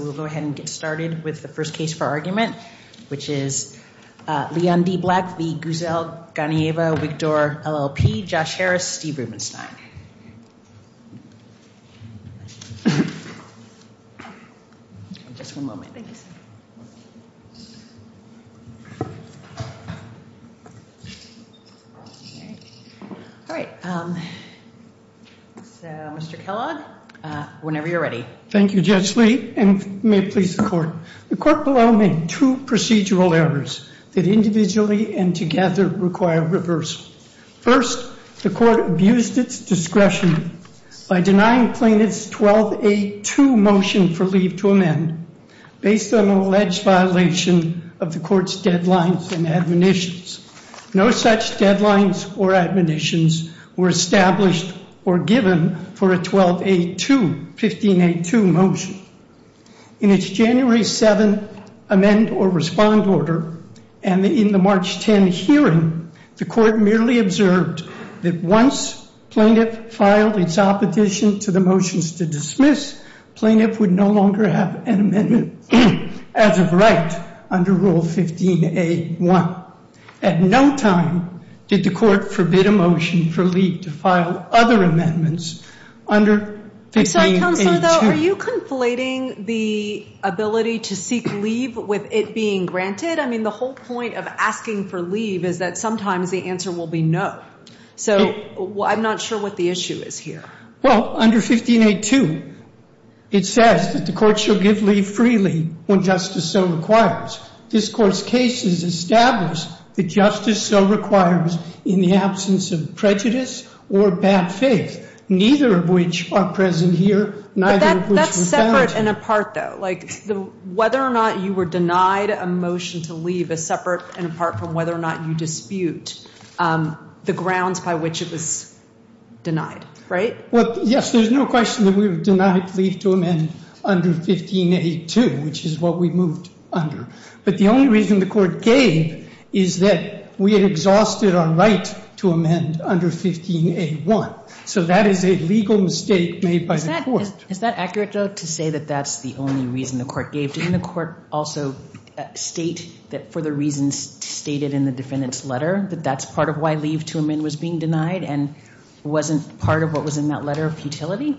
We'll go ahead and get started with the first case for argument, which is Leon D. Black v. Guzel, Ganieva, Wigdor, LLP, Josh Harris, Steve Rubenstein. Just one moment. All right. Mr. Kellogg, whenever you're ready. Thank you, Judge Lee, and may it please the court. The court below made two procedural errors that individually and together require reverse. First, the court abused its discretion by denying plaintiffs 12A2 motion for leave to amend based on an alleged violation of the court's deadlines and admonitions. No such deadlines or admonitions were established or given for a 12A2, 15A2 motion. In its January 7th amend or respond order and in the March 10 hearing, the court merely observed that once plaintiff filed its opposition to the motions to dismiss, plaintiff would no longer have an amendment as of right under rule 15A1. At no time did the court forbid a motion for leave to file other amendments under 15A2. I'm sorry, Counselor, though, are you conflating the ability to seek leave with it being granted? I mean, the whole point of asking for leave is that sometimes the answer will be no. So I'm not sure what the issue is here. Well, under 15A2, it says that the court shall give leave freely when justice so requires. This court's case has established that justice so requires in the absence of prejudice or bad faith, neither of which are present here, neither of which were found. But that's separate and apart, though. Like, whether or not you were denied a motion to leave is separate and apart from whether or not you dispute the grounds by which it was denied, right? Well, yes, there's no question that we were denied leave to amend under 15A2, which is what we moved under. But the only reason the court gave is that we had exhausted our right to amend under 15A1. So that is a legal mistake made by the court. Is that accurate, though, to say that that's the only reason the court gave? Didn't the court also state that for the reasons stated in the defendant's letter, that that's part of why leave to amend was being denied and wasn't part of what was in that letter of futility?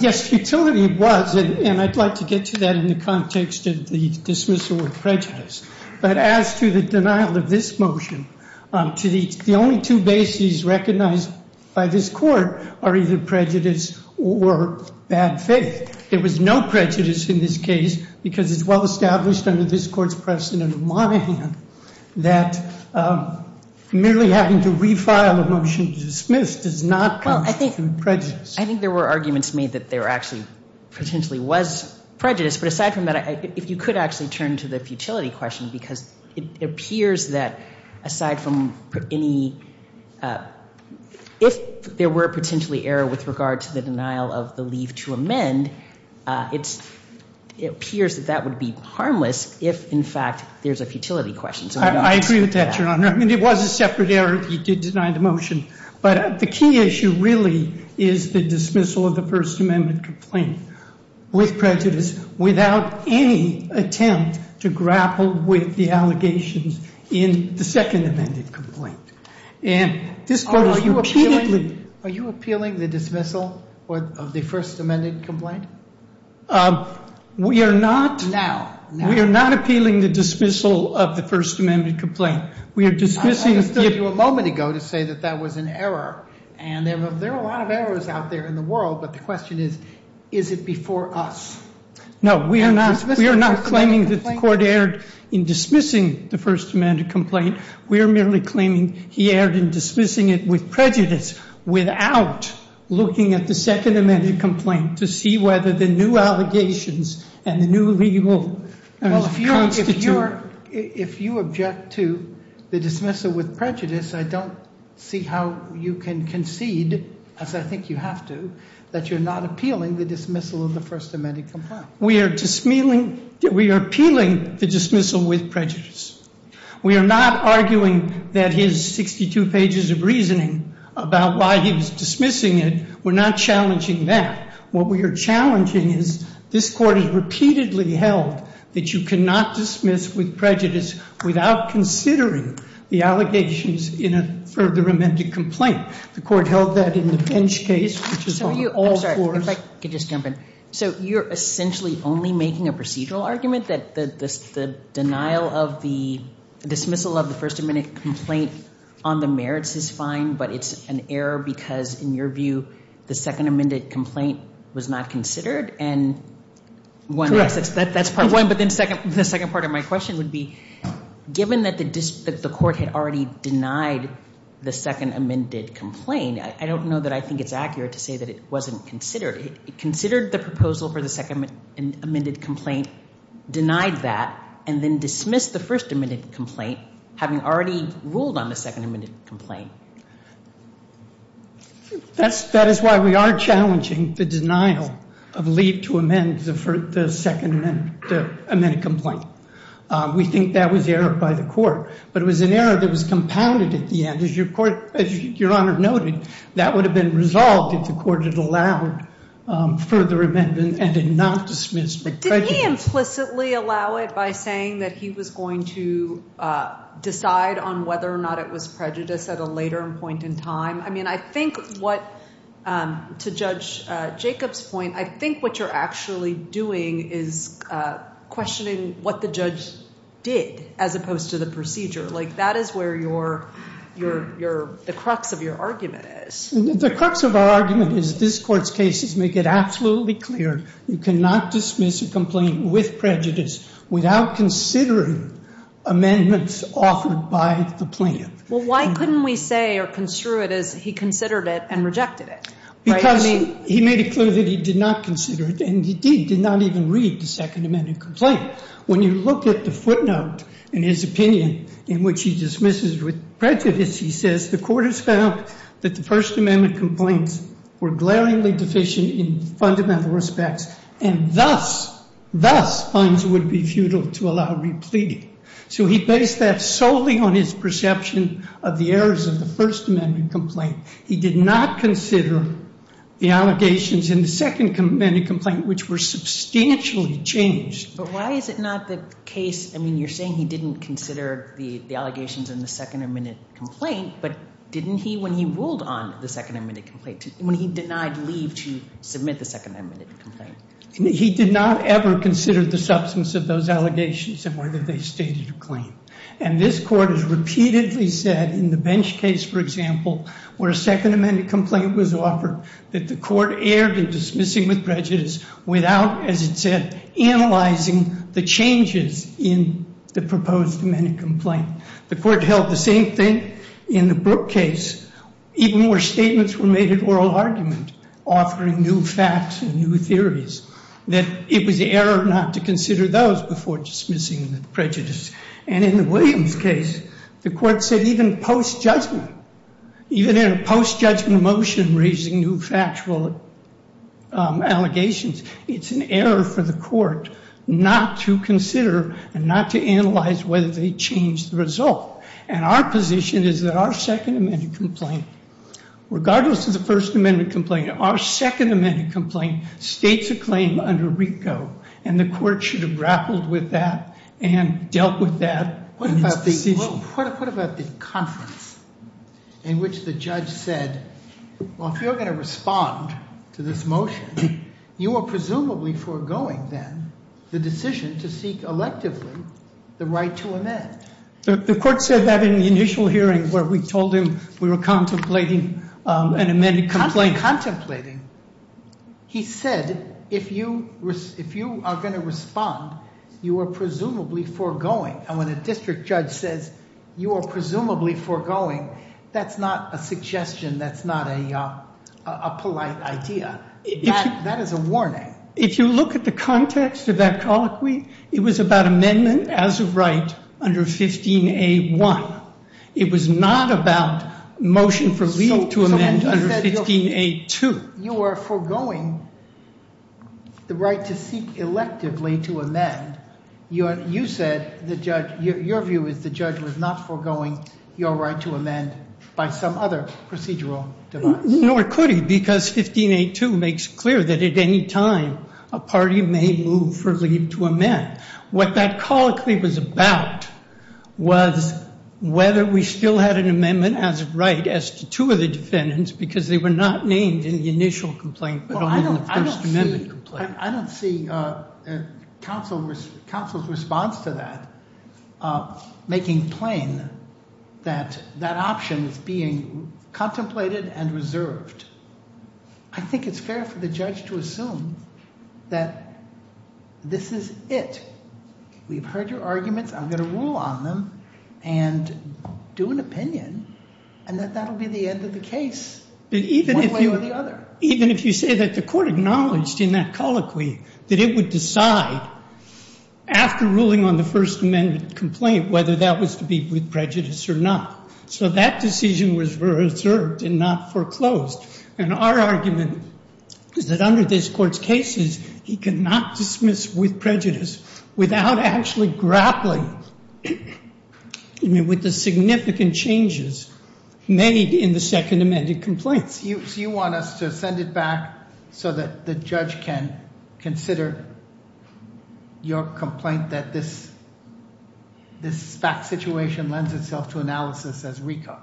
Yes, futility was, and I'd like to get to that in the context of the dismissal of prejudice. But as to the denial of this motion, the only two bases recognized by this court are either prejudice or bad faith. There was no prejudice in this case because it's well established under this court's precedent of Monahan that merely having to refile a motion to dismiss does not constitute prejudice. I think there were arguments made that there actually potentially was prejudice. But aside from that, if you could actually turn to the futility question, because it appears that aside from any, if there were potentially error with regard to the denial of the leave to amend, it appears that that would be harmless if, in fact, there's a futility question. I agree with that, Your Honor. I mean, it was a separate error if you did deny the motion. But the key issue really is the dismissal of the First Amendment complaint with prejudice without any attempt to grapple with the allegations in the second amended complaint. And this court has repeatedly- Are you appealing the dismissal of the First Amendment complaint? We are not. Now. We are not appealing the dismissal of the First Amendment complaint. We are dismissing- I understood you a moment ago to say that that was an error. And there are a lot of errors out there in the world, but the question is, is it before us? No, we are not. We are not claiming that the court erred in dismissing the First Amendment complaint. We are merely claiming he erred in dismissing it with prejudice without looking at the second amended complaint to see whether the new allegations and the new legal constitute- Well, if you object to the dismissal with prejudice, I don't see how you can concede, as I think you have to, that you're not appealing the dismissal of the First Amendment complaint. We are appealing the dismissal with prejudice. We are not arguing that his 62 pages of reasoning about why he was dismissing it. We're not challenging that. What we are challenging is this court has repeatedly held that you cannot dismiss with prejudice without considering the allegations in a further amended complaint. The court held that in the bench case, which is on all fours. I'm sorry, if I could just jump in. So you're essentially only making a procedural argument that the denial of the dismissal of the First Amendment complaint on the merits is fine, but it's an error because, in your view, the second amended complaint was not considered? And one- Correct. That's part of- But then the second part of my question would be, given that the court had already denied the second amended complaint, I don't know that I think it's accurate to say that it wasn't considered. It considered the proposal for the second amended complaint, denied that, and then dismissed the first amended complaint, having already ruled on the second amended complaint. That is why we are challenging the denial of leave to amend the second amended complaint. We think that was error by the court, but it was an error that was compounded at the end. As your Honor noted, that would have been resolved if the court had allowed further amendment and had not dismissed the prejudice. But did he implicitly allow it by saying that he was going to decide on whether or not it was prejudice at a later point in time? I mean, I think what, to Judge Jacobs' point, I think what you're actually doing is questioning what the judge did as opposed to the procedure. That is where the crux of your argument is. The crux of our argument is this court's cases make it absolutely clear you cannot dismiss a complaint with prejudice without considering amendments offered by the plan. Well, why couldn't we say or construe it as he considered it and rejected it? Because he made it clear that he did not consider it, and he did not even read the second amended complaint. When you look at the footnote in his opinion in which he dismisses with prejudice, he says the court has found that the first amendment complaints were glaringly deficient in fundamental respects. And thus, thus funds would be futile to allow repleting. So he based that solely on his perception of the errors of the first amendment complaint. He did not consider the allegations in the second amendment complaint, which were substantially changed. But why is it not the case, I mean, you're saying he didn't consider the allegations in the second amendment complaint, but didn't he when he ruled on the second amendment complaint, when he denied leave to submit the second amendment complaint? He did not ever consider the substance of those allegations and whether they stated a claim. And this court has repeatedly said in the Bench case, for example, where a second amendment complaint was offered, that the court erred in dismissing with prejudice without, as it said, analyzing the changes in the proposed amendment complaint. The court held the same thing in the Brooke case, even where statements were made at oral argument, offering new facts and new theories, that it was the error not to consider those before dismissing with prejudice. And in the Williams case, the court said even post-judgment, even in a post-judgment motion raising new factual allegations, it's an error for the court not to consider and not to analyze whether they changed the result. And our position is that our second amendment complaint, regardless of the first amendment complaint, our second amendment complaint states a claim under RICO, and the court should have grappled with that and dealt with that. What about the conference in which the judge said, well, if you're going to respond to this motion, you are presumably foregoing, then, the decision to seek electively the right to amend. The court said that in the initial hearing where we told him we were contemplating an amended complaint. Contemplating, he said, if you are going to respond, you are presumably foregoing, and when a district judge says you are presumably foregoing, that's not a suggestion, that's not a polite idea. That is a warning. If you look at the context of that colloquy, it was about amendment as of right under 15A1. It was not about motion for leave to amend under 15A2. You are foregoing the right to seek electively to amend. You said, your view is the judge was not foregoing your right to amend by some other procedural device. Nor could he, because 15A2 makes clear that at any time a party may move for leave to amend. What that colloquy was about was whether we still had an amendment as of right as to two of the defendants, because they were not named in the initial complaint, but only in the first amendment complaint. I don't see counsel's response to that making plain that that option is being contemplated and reserved. I think it's fair for the judge to assume that this is it. We've heard your arguments. I'm going to rule on them and do an opinion, and that that will be the end of the case, one way or the other. Even if you say that the court acknowledged in that colloquy that it would decide, after ruling on the first amendment complaint, whether that was to be with prejudice or not. So that decision was reserved and not foreclosed. And our argument is that under this court's cases, he cannot dismiss with prejudice without actually grappling with the significant changes made in the second amended complaints. So you want us to send it back so that the judge can consider your complaint that this fact situation lends itself to analysis as recall?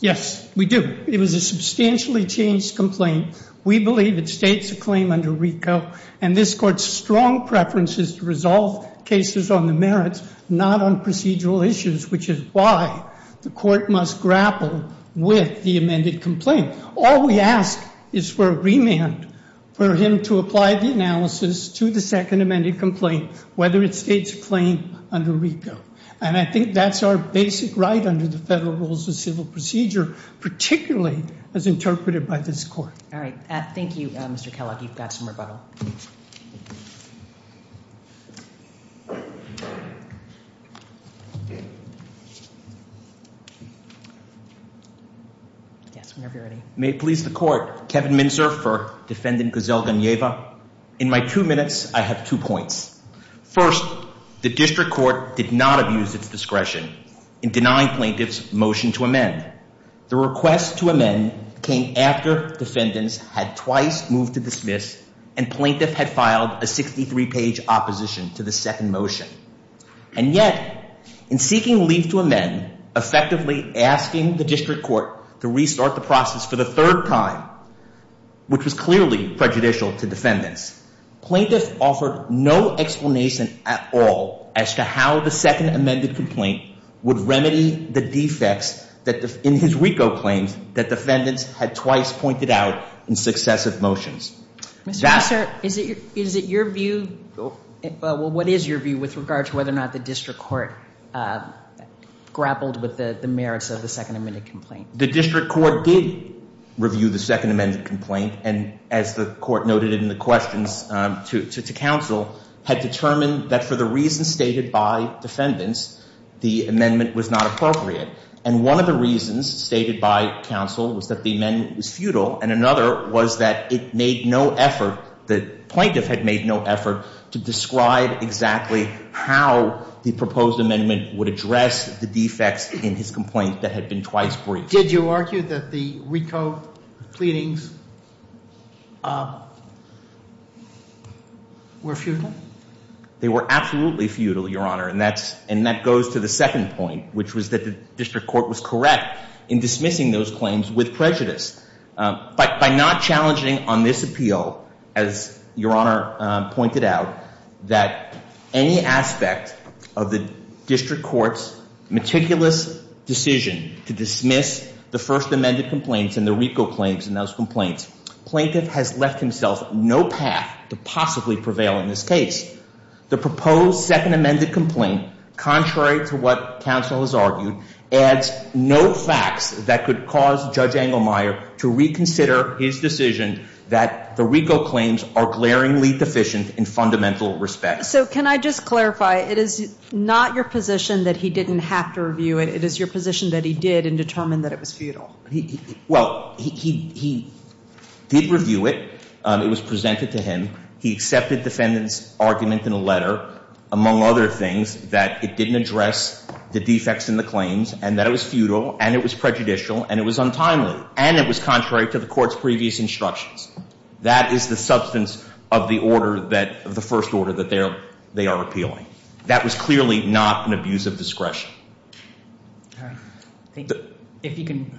Yes, we do. It was a substantially changed complaint. We believe it states a claim under RICO. And this court's strong preference is to resolve cases on the merits, not on procedural issues, which is why the court must grapple with the amended complaint. All we ask is for a remand for him to apply the analysis to the second amended complaint, whether it states a claim under RICO. And I think that's our basic right under the Federal Rules of Civil Procedure, particularly as interpreted by this court. All right, thank you, Mr. Kellogg. You've got some rebuttal. Yes, whenever you're ready. May it please the court. Kevin Minzer for Defendant Giselle Ganeva. In my two minutes, I have two points. First, the district court did not abuse its discretion in denying plaintiff's motion to amend. The request to amend came after defendants had twice moved to dismiss and plaintiff had filed a 63 page opposition to the second motion. And yet, in seeking leave to amend, effectively asking the district court to restart the process for the third time, which was clearly prejudicial to defendants, plaintiff offered no explanation at all as to how the second amended complaint would remedy the defects in his RICO claims that defendants had twice pointed out in successive motions. Mr. Minzer, is it your view, well, what is your view with regard to whether or not the district court grappled with the merits of the second amended complaint? The district court did review the second amended complaint. And as the court noted in the questions to counsel, had determined that for the reasons stated by defendants, the amendment was not appropriate. And one of the reasons stated by counsel was that the amendment was futile. And another was that it made no effort, the plaintiff had made no effort to describe exactly how the proposed amendment would address the defects in his complaint that had been twice briefed. Did you argue that the RICO pleadings were futile? They were absolutely futile, your honor. And that goes to the second point, which was that the district court was correct in dismissing those claims with prejudice. By not challenging on this appeal, as your honor pointed out, that any aspect of the district court's meticulous decision to dismiss the first amended complaints and the RICO claims in those complaints, plaintiff has left himself no path to possibly prevail in this case. The proposed second amended complaint, contrary to what counsel has argued, adds no facts that could cause Judge Engelmeyer to reconsider his decision that the RICO claims are glaringly deficient in fundamental respect. So can I just clarify, it is not your position that he didn't have to review it. It is your position that he did and determined that it was futile. Well, he did review it. It was presented to him. He accepted defendant's argument in a letter, among other things, that it didn't address the defects in the claims, and that it was futile, and it was prejudicial, and it was untimely. And it was contrary to the court's previous instructions. That is the substance of the first order that they are appealing. That was clearly not an abuse of discretion. All right, thank you. If you can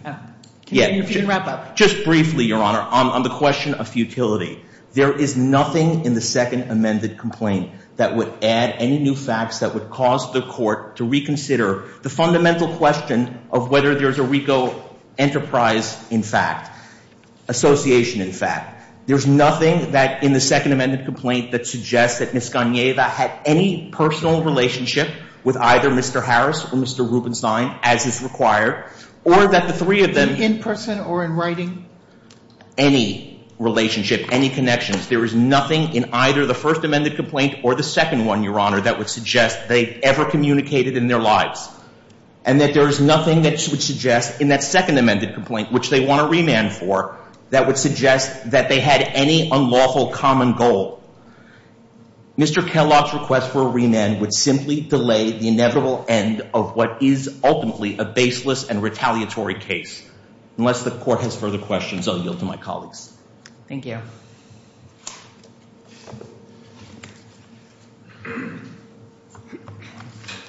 wrap up. Just briefly, your honor, on the question of futility. There is nothing in the second amended complaint that would add any new facts that would cause the court to reconsider the fundamental question of whether there's a RICO enterprise in fact, association in fact. There's nothing that in the second amended complaint that suggests that Ms. Ganeva had any personal relationship with either Mr. Harris or Mr. Rubenstein as is required, or that the three of them. In person or in writing? Any relationship, any connections. There is nothing in either the first amended complaint or the second one, your honor, that would suggest they ever communicated in their lives. And that there is nothing that would suggest in that second amended complaint, which they want a remand for, that would suggest that they had any unlawful common goal. Mr. Kellogg's request for a remand would simply delay the inevitable end of what is ultimately a baseless and retaliatory case. Unless the court has further questions, I'll yield to my colleagues. Thank you.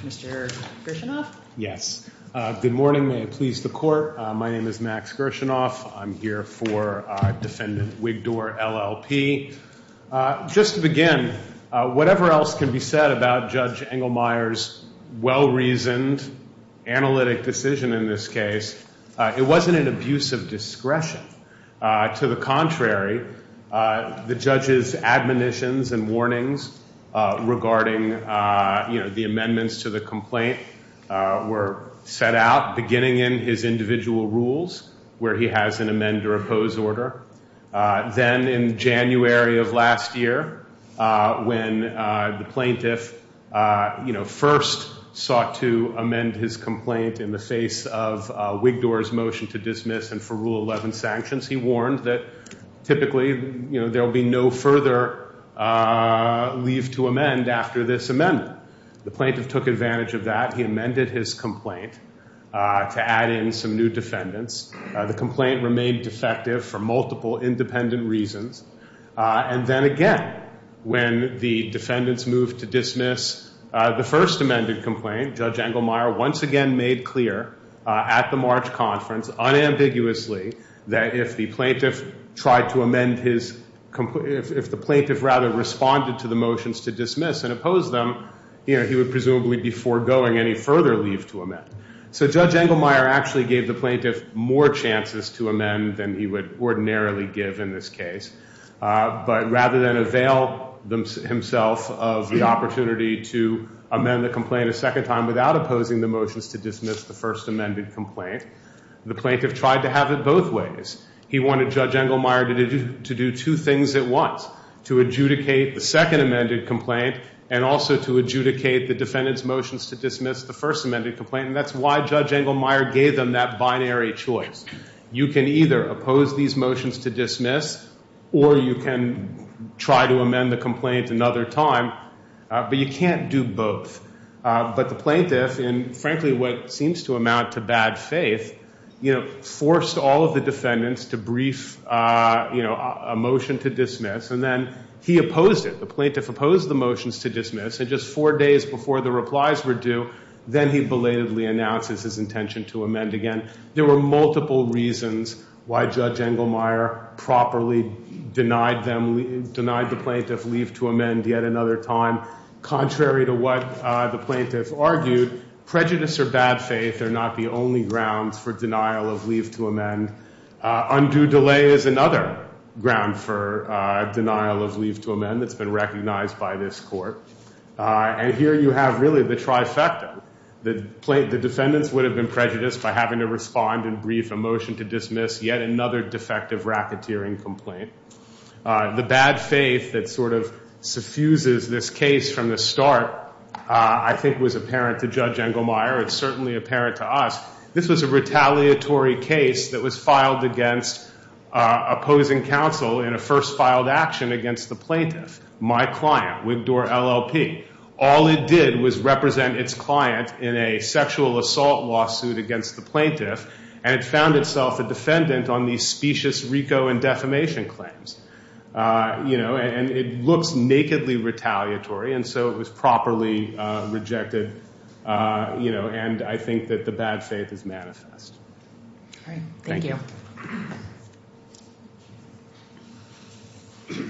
Mr. Gershinoff? Yes. Good morning. May it please the court. My name is Max Gershinoff. I'm here for defendant Wigdor, LLP. Just to begin, whatever else can be said about Judge Engelmeyer's well-reasoned, analytic decision in this case, it wasn't an abuse of discretion. To the contrary, the judge's admonitions and warnings regarding the amendments to the complaint were set out beginning in his individual rules, where he has an amend or oppose order. Then in January of last year, when the plaintiff first sought to amend his complaint in the face of Wigdor's motion to dismiss and for Rule 11 sanctions, he warned that typically there will be no further leave to amend after this amendment. The plaintiff took advantage of that. He amended his complaint to add in some new defendants. The complaint remained defective for multiple independent reasons. And then again, when the defendants moved to dismiss the first amended complaint, Judge Engelmeyer once again made clear at the March conference, unambiguously, that if the plaintiff tried to amend his complaint, if the plaintiff rather responded to the motions to dismiss and oppose them, he would presumably be foregoing any further leave to amend. So Judge Engelmeyer actually gave the plaintiff more chances to amend than he would ordinarily give in this case, but rather than avail himself of the opportunity to amend the complaint a second time without opposing the motions to dismiss the first amended complaint, the plaintiff tried to have it both ways. He wanted Judge Engelmeyer to do two things at once, to adjudicate the second amended complaint and also to adjudicate the defendant's motions to dismiss the first amended complaint. And that's why Judge Engelmeyer gave them that binary choice. You can either oppose these motions to dismiss or you can try to amend the complaint another time, but you can't do both. But the plaintiff, in frankly what seems to amount to bad faith, forced all of the defendants to brief a motion to dismiss. And then he opposed it. The plaintiff opposed the motions to dismiss. And just four days before the replies were due, then he belatedly announces his intention to amend again. There were multiple reasons why Judge Engelmeyer properly denied them, denied the plaintiff leave to amend yet another time. Contrary to what the plaintiff argued, prejudice or bad faith are not the only grounds for denial of leave to amend. Undue delay is another ground for denial of leave to amend that's been recognized by this court. And here you have really the trifecta. The defendants would have been prejudiced by having to respond and brief a motion to dismiss yet another defective racketeering complaint. The bad faith that sort of suffuses this case from the start, I think was apparent to Judge Engelmeyer. It's certainly apparent to us. This was a retaliatory case that was filed against opposing counsel in a first filed action against the plaintiff, my client, Wigdor LLP. All it did was represent its client in a sexual assault lawsuit against the plaintiff, and it found itself a defendant on these specious RICO and defamation claims. And it looks nakedly retaliatory, and so it was properly rejected. And I think that the bad faith is manifest. Thank you. Good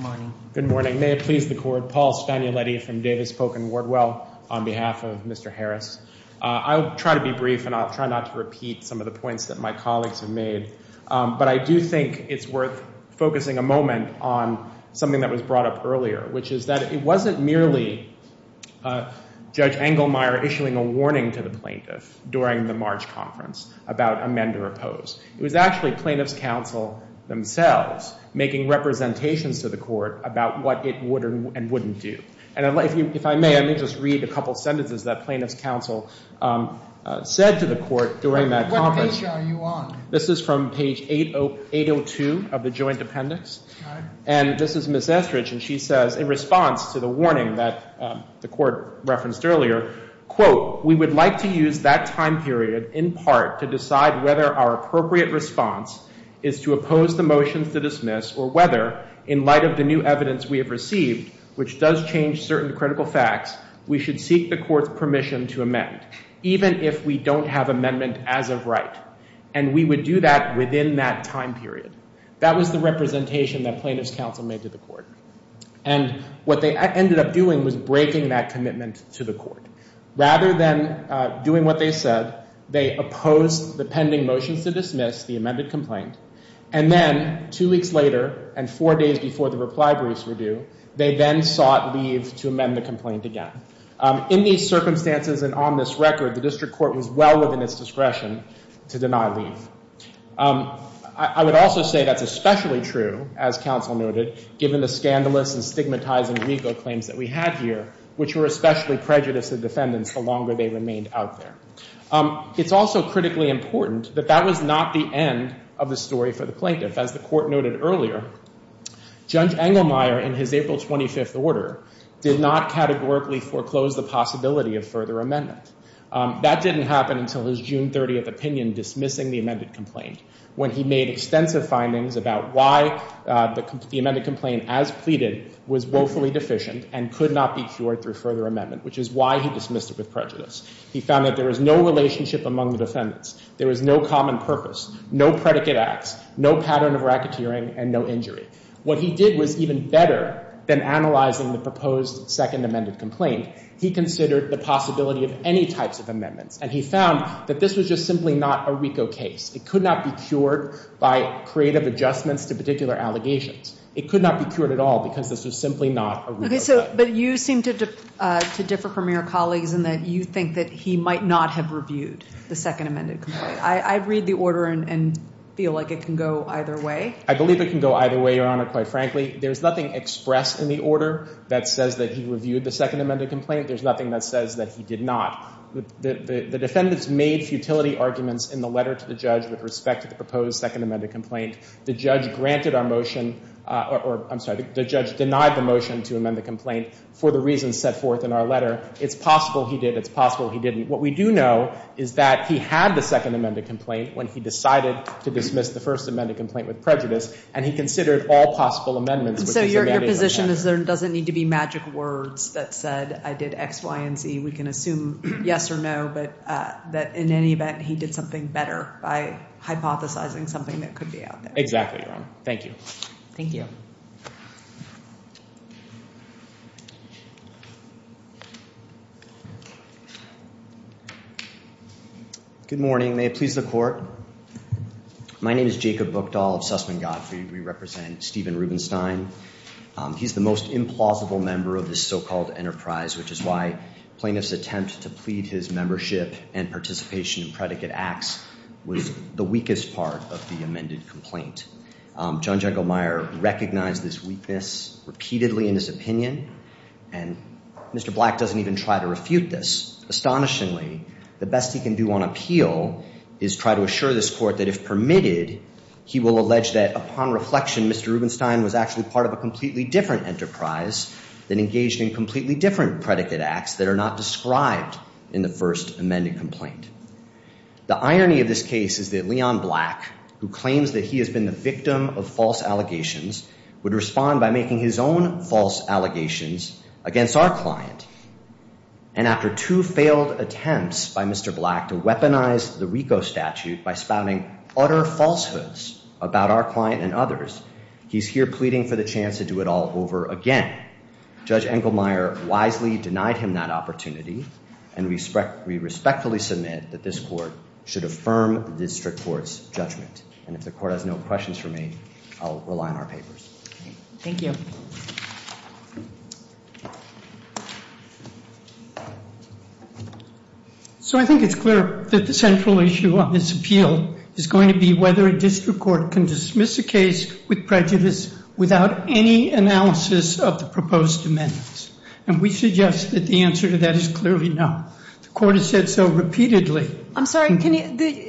morning. Good morning. May it please the court. Paul Stagnoletti from Davis Polk and Wardwell on behalf of Mr. Harris. I'll try to be brief, and I'll try not to repeat some of the points that my colleagues have made. But I do think it's worth focusing a moment on something that was brought up earlier, which is that it wasn't merely Judge Engelmeyer issuing a warning to the plaintiff during the March conference about amend or oppose. It was actually plaintiff's counsel themselves making representations to the court about what it would and wouldn't do. And if I may, let me just read a couple sentences that plaintiff's counsel said to the court during that conference. What page are you on? This is from page 802 of the joint appendix. And this is Ms. Estridge, and she says, in response to the warning that the court referenced earlier, quote, we would like to use that time period in part to decide whether our appropriate response is to oppose the motions to dismiss or whether, in light of the new evidence we have received, which does change certain critical facts, we should seek the court's permission to amend, even if we don't have amendment as of right. And we would do that within that time period. That was the representation that plaintiff's counsel made to the court. And what they ended up doing was breaking that commitment to the court. Rather than doing what they said, they opposed the pending motions to dismiss, the amended complaint, and then two weeks later and four days before the reply briefs were due, they then sought leave to amend the complaint again. In these circumstances and on this record, the district court was well within its discretion to deny leave. I would also say that's especially true, as counsel noted, given the scandalous and stigmatizing legal claims that we had here, which were especially prejudiced to defendants the longer they remained out there. It's also critically important that that was not the end of the story for the plaintiff. As the court noted earlier, Judge Engelmeyer, in his April 25th order, did not categorically foreclose the possibility of further amendment. That didn't happen until his June 30th opinion dismissing the amended complaint, when he made extensive findings about why the amended complaint, as pleaded, was woefully deficient and could not be cured through further amendment, which is why he dismissed it with prejudice. He found that there was no relationship among the defendants. There was no common purpose, no predicate acts, no pattern of racketeering, and no injury. What he did was even better than analyzing the proposed second amended complaint. He considered the possibility of any types of amendments, and he found that this was just simply not a RICO case. It could not be cured by creative adjustments to particular allegations. It could not be cured at all because this was simply not a RICO case. But you seem to differ from your colleagues in that you think that he might not have reviewed the second amended complaint. I read the order and feel like it can go either way. I believe it can go either way, Your Honor, quite frankly. There's nothing expressed in the order that says that he reviewed the second amended complaint. There's nothing that says that he did not. The defendants made futility arguments in the letter to the judge with respect to the proposed second amended complaint. The judge granted our motion or I'm sorry, the judge denied the motion to amend the complaint for the reasons set forth in our letter. It's possible he did. It's possible he didn't. What we do know is that he had the second amended complaint when he decided to dismiss the first amended complaint with prejudice, and he considered all possible amendments. So your position is there doesn't need to be magic words that said I did X, Y, and Z. We can assume yes or no, but that in any event, he did something better by hypothesizing something that could be out there. Exactly, Your Honor. Thank you. Thank you. Good morning. May it please the court. My name is Jacob Buchdahl of Sussman Gottfried. We represent Stephen Rubenstein. He's the most implausible member of this so-called enterprise, which is why plaintiff's attempt to plead his membership and participation in predicate acts was the weakest part of the amended complaint. John Jagelmeyer recognized this weakness repeatedly in his opinion, and Mr. Black doesn't even try to refute this. Astonishingly, the best he can do on appeal is try to assure this court that if permitted, he will allege that upon reflection, Mr. Rubenstein was actually part of a completely different enterprise than engaged in completely different predicate acts that are not described in the first amended complaint. The irony of this case is that Leon Black, who claims that he has been the victim of false allegations, would respond by making his own false allegations against our client. And after two failed attempts by Mr. Black to weaponize the RICO statute by spouting utter falsehoods about our client and others, he's here pleading for the chance to do it all over again. Judge Engelmeyer wisely denied him that opportunity, and we respectfully submit that this court should affirm the district court's judgment. And if the court has no questions for me, I'll rely on our papers. Thank you. So I think it's clear that the central issue on this appeal is going to be whether a district court can dismiss a case with prejudice without any analysis of the proposed amendments. And we suggest that the answer to that is clearly no. The court has said so repeatedly. I'm sorry,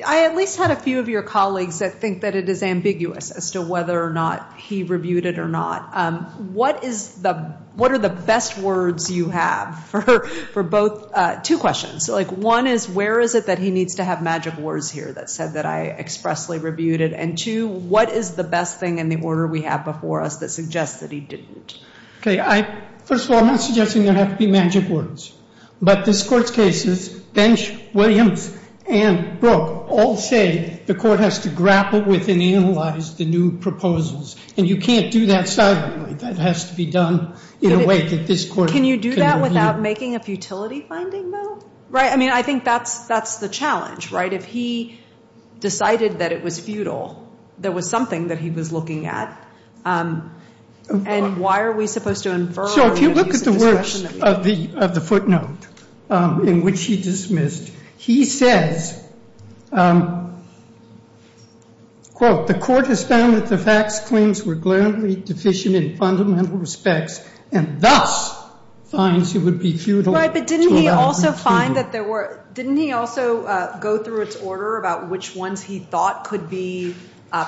I at least had a few of your colleagues that think that it is ambiguous as to whether or not he reviewed it or not. What are the best words you have for both? Two questions. One is, where is it that he needs to have magic words here that said that I expressly reviewed it? And two, what is the best thing in the order we have before us that suggests that he didn't? First of all, I'm not suggesting there have to be magic words. But this court's cases, Bench, Williams, and Brooke all say the court has to grapple with and analyze the new proposals. And you can't do that silently. That has to be done in a way that this court can review. Can you do that without making a futility finding, though? I mean, I think that's the challenge, right? If he decided that it was futile, there was something that he was looking at. And why are we supposed to infer? So if you look at the words of the footnote in which he dismissed, he says, quote, the court has found that the facts claims were glaringly deficient in fundamental respects, and thus finds it would be futile. Right, but didn't he also go through its order about which ones he thought could be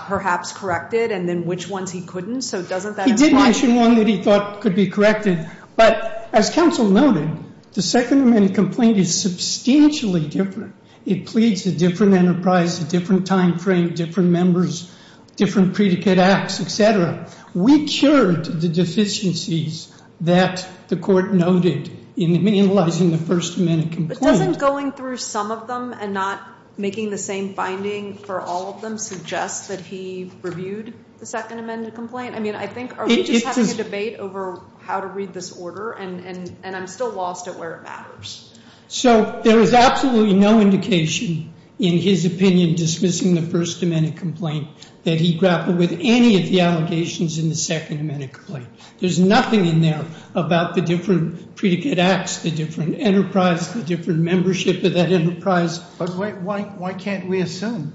perhaps corrected and then which ones he couldn't? So doesn't that imply? He did mention one that he thought could be corrected. But as counsel noted, the Second Amendment complaint is substantially different. It pleads a different enterprise, a different time frame, different members, different predicate acts, et cetera. We cured the deficiencies that the court noted in analyzing the First Amendment complaint. But doesn't going through some of them and not making the same finding for all of them suggest that he reviewed the Second Amendment complaint? I mean, I think, are we just having a debate over how to read this order? And I'm still lost at where it matters. So there was absolutely no indication in his opinion dismissing the First Amendment complaint that he grappled with any of the allegations in the Second Amendment complaint. There's nothing in there about the different predicate acts, the different enterprise, the different membership of that enterprise. But why can't we assume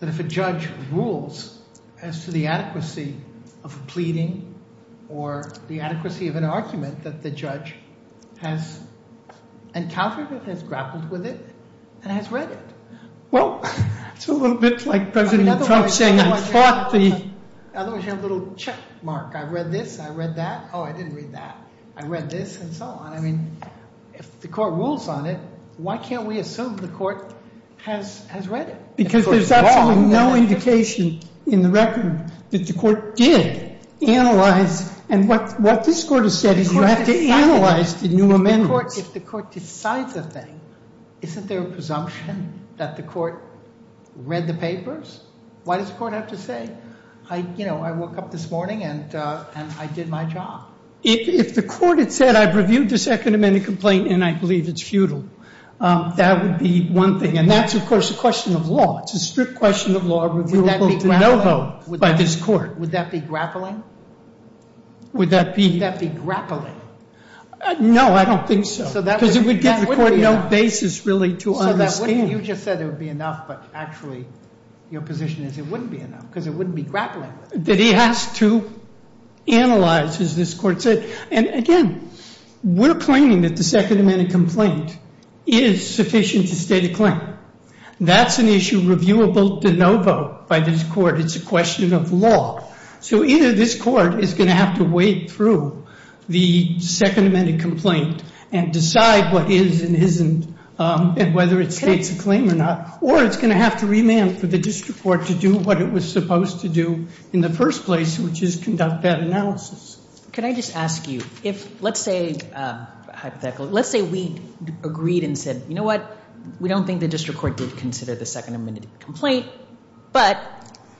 that if a judge rules as to the adequacy of pleading or the adequacy of an argument that the judge has encountered it, has grappled with it, and has read it? Well, it's a little bit like President Trump saying I fought the... Otherwise, you have a little check mark. I read this, I read that. Oh, I didn't read that. I read this and so on. I mean, if the court rules on it, why can't we assume the court has read it? Because there's absolutely no indication in the record that the court did analyze. And what this court has said is you have to analyze the new amendments. If the court decides a thing, isn't there a presumption that the court read the papers? Why does the court have to say, you know, I woke up this morning and I did my job? If the court had said I've reviewed the Second Amendment complaint and I believe it's futile, that would be one thing. And that's, of course, a question of law. It's a strict question of law reviewable to no vote by this court. Would that be grappling? Would that be... Would that be grappling? No, I don't think so. Because it would give the court no basis, really, to understand. You just said it would be enough, but actually your position is it wouldn't be enough because it wouldn't be grappling. That he has to analyze, as this court said. And again, we're claiming that the Second Amendment complaint is sufficient to state a claim. That's an issue reviewable to no vote by this court. It's a question of law. So either this court is going to have to wade through the Second Amendment complaint and decide what is and isn't and whether it states a claim or not. Or it's going to have to remand for the district court to do what it was supposed to do in the first place, which is conduct that analysis. Can I just ask you, if, let's say, hypothetically, let's say we agreed and said, you know what? We don't think the district court did consider the Second Amendment complaint, but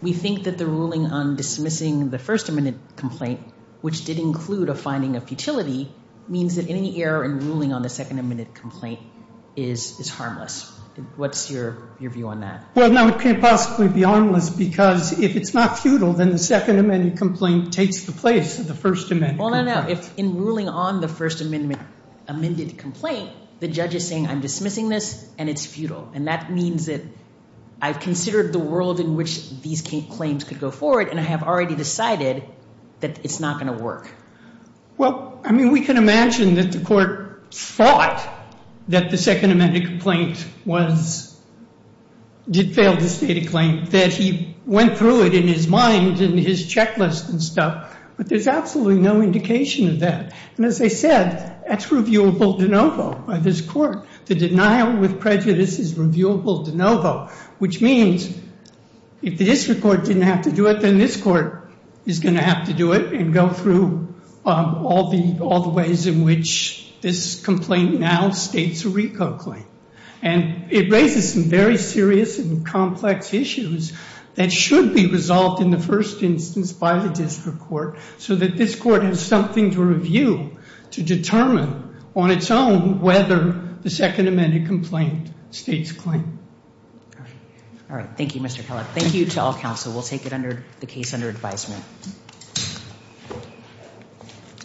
we think that the ruling on dismissing the First Amendment complaint, which did include a finding of futility, means that any error in ruling on the Second Amendment complaint is harmless. What's your view on that? Well, no, it can't possibly be harmless because if it's not futile, then the Second Amendment complaint takes the place of the First Amendment complaint. Well, no, no. If in ruling on the First Amendment amended complaint, the judge is saying I'm dismissing this and it's futile. And that means that I've considered the world in which these claims could go forward and I have already decided that it's not going to work. Well, I mean, we can imagine that the court thought that the Second Amendment complaint was, did fail to state a claim, that he went through it in his mind and his checklist and stuff. But there's absolutely no indication of that. And as I said, that's reviewable de novo by this court. The denial with prejudice is reviewable de novo, which means if the district court didn't have to do it, then this court is going to have to do it and go through all the ways in which this complaint now states a RICO claim. And it raises some very serious and complex issues that should be resolved in the first instance by the district court so that this court has something to review to determine on its own whether the Second Amendment complaint states claim. All right. Thank you, Mr. Kellogg. Thank you to all counsel. We'll take it under the case under advisement.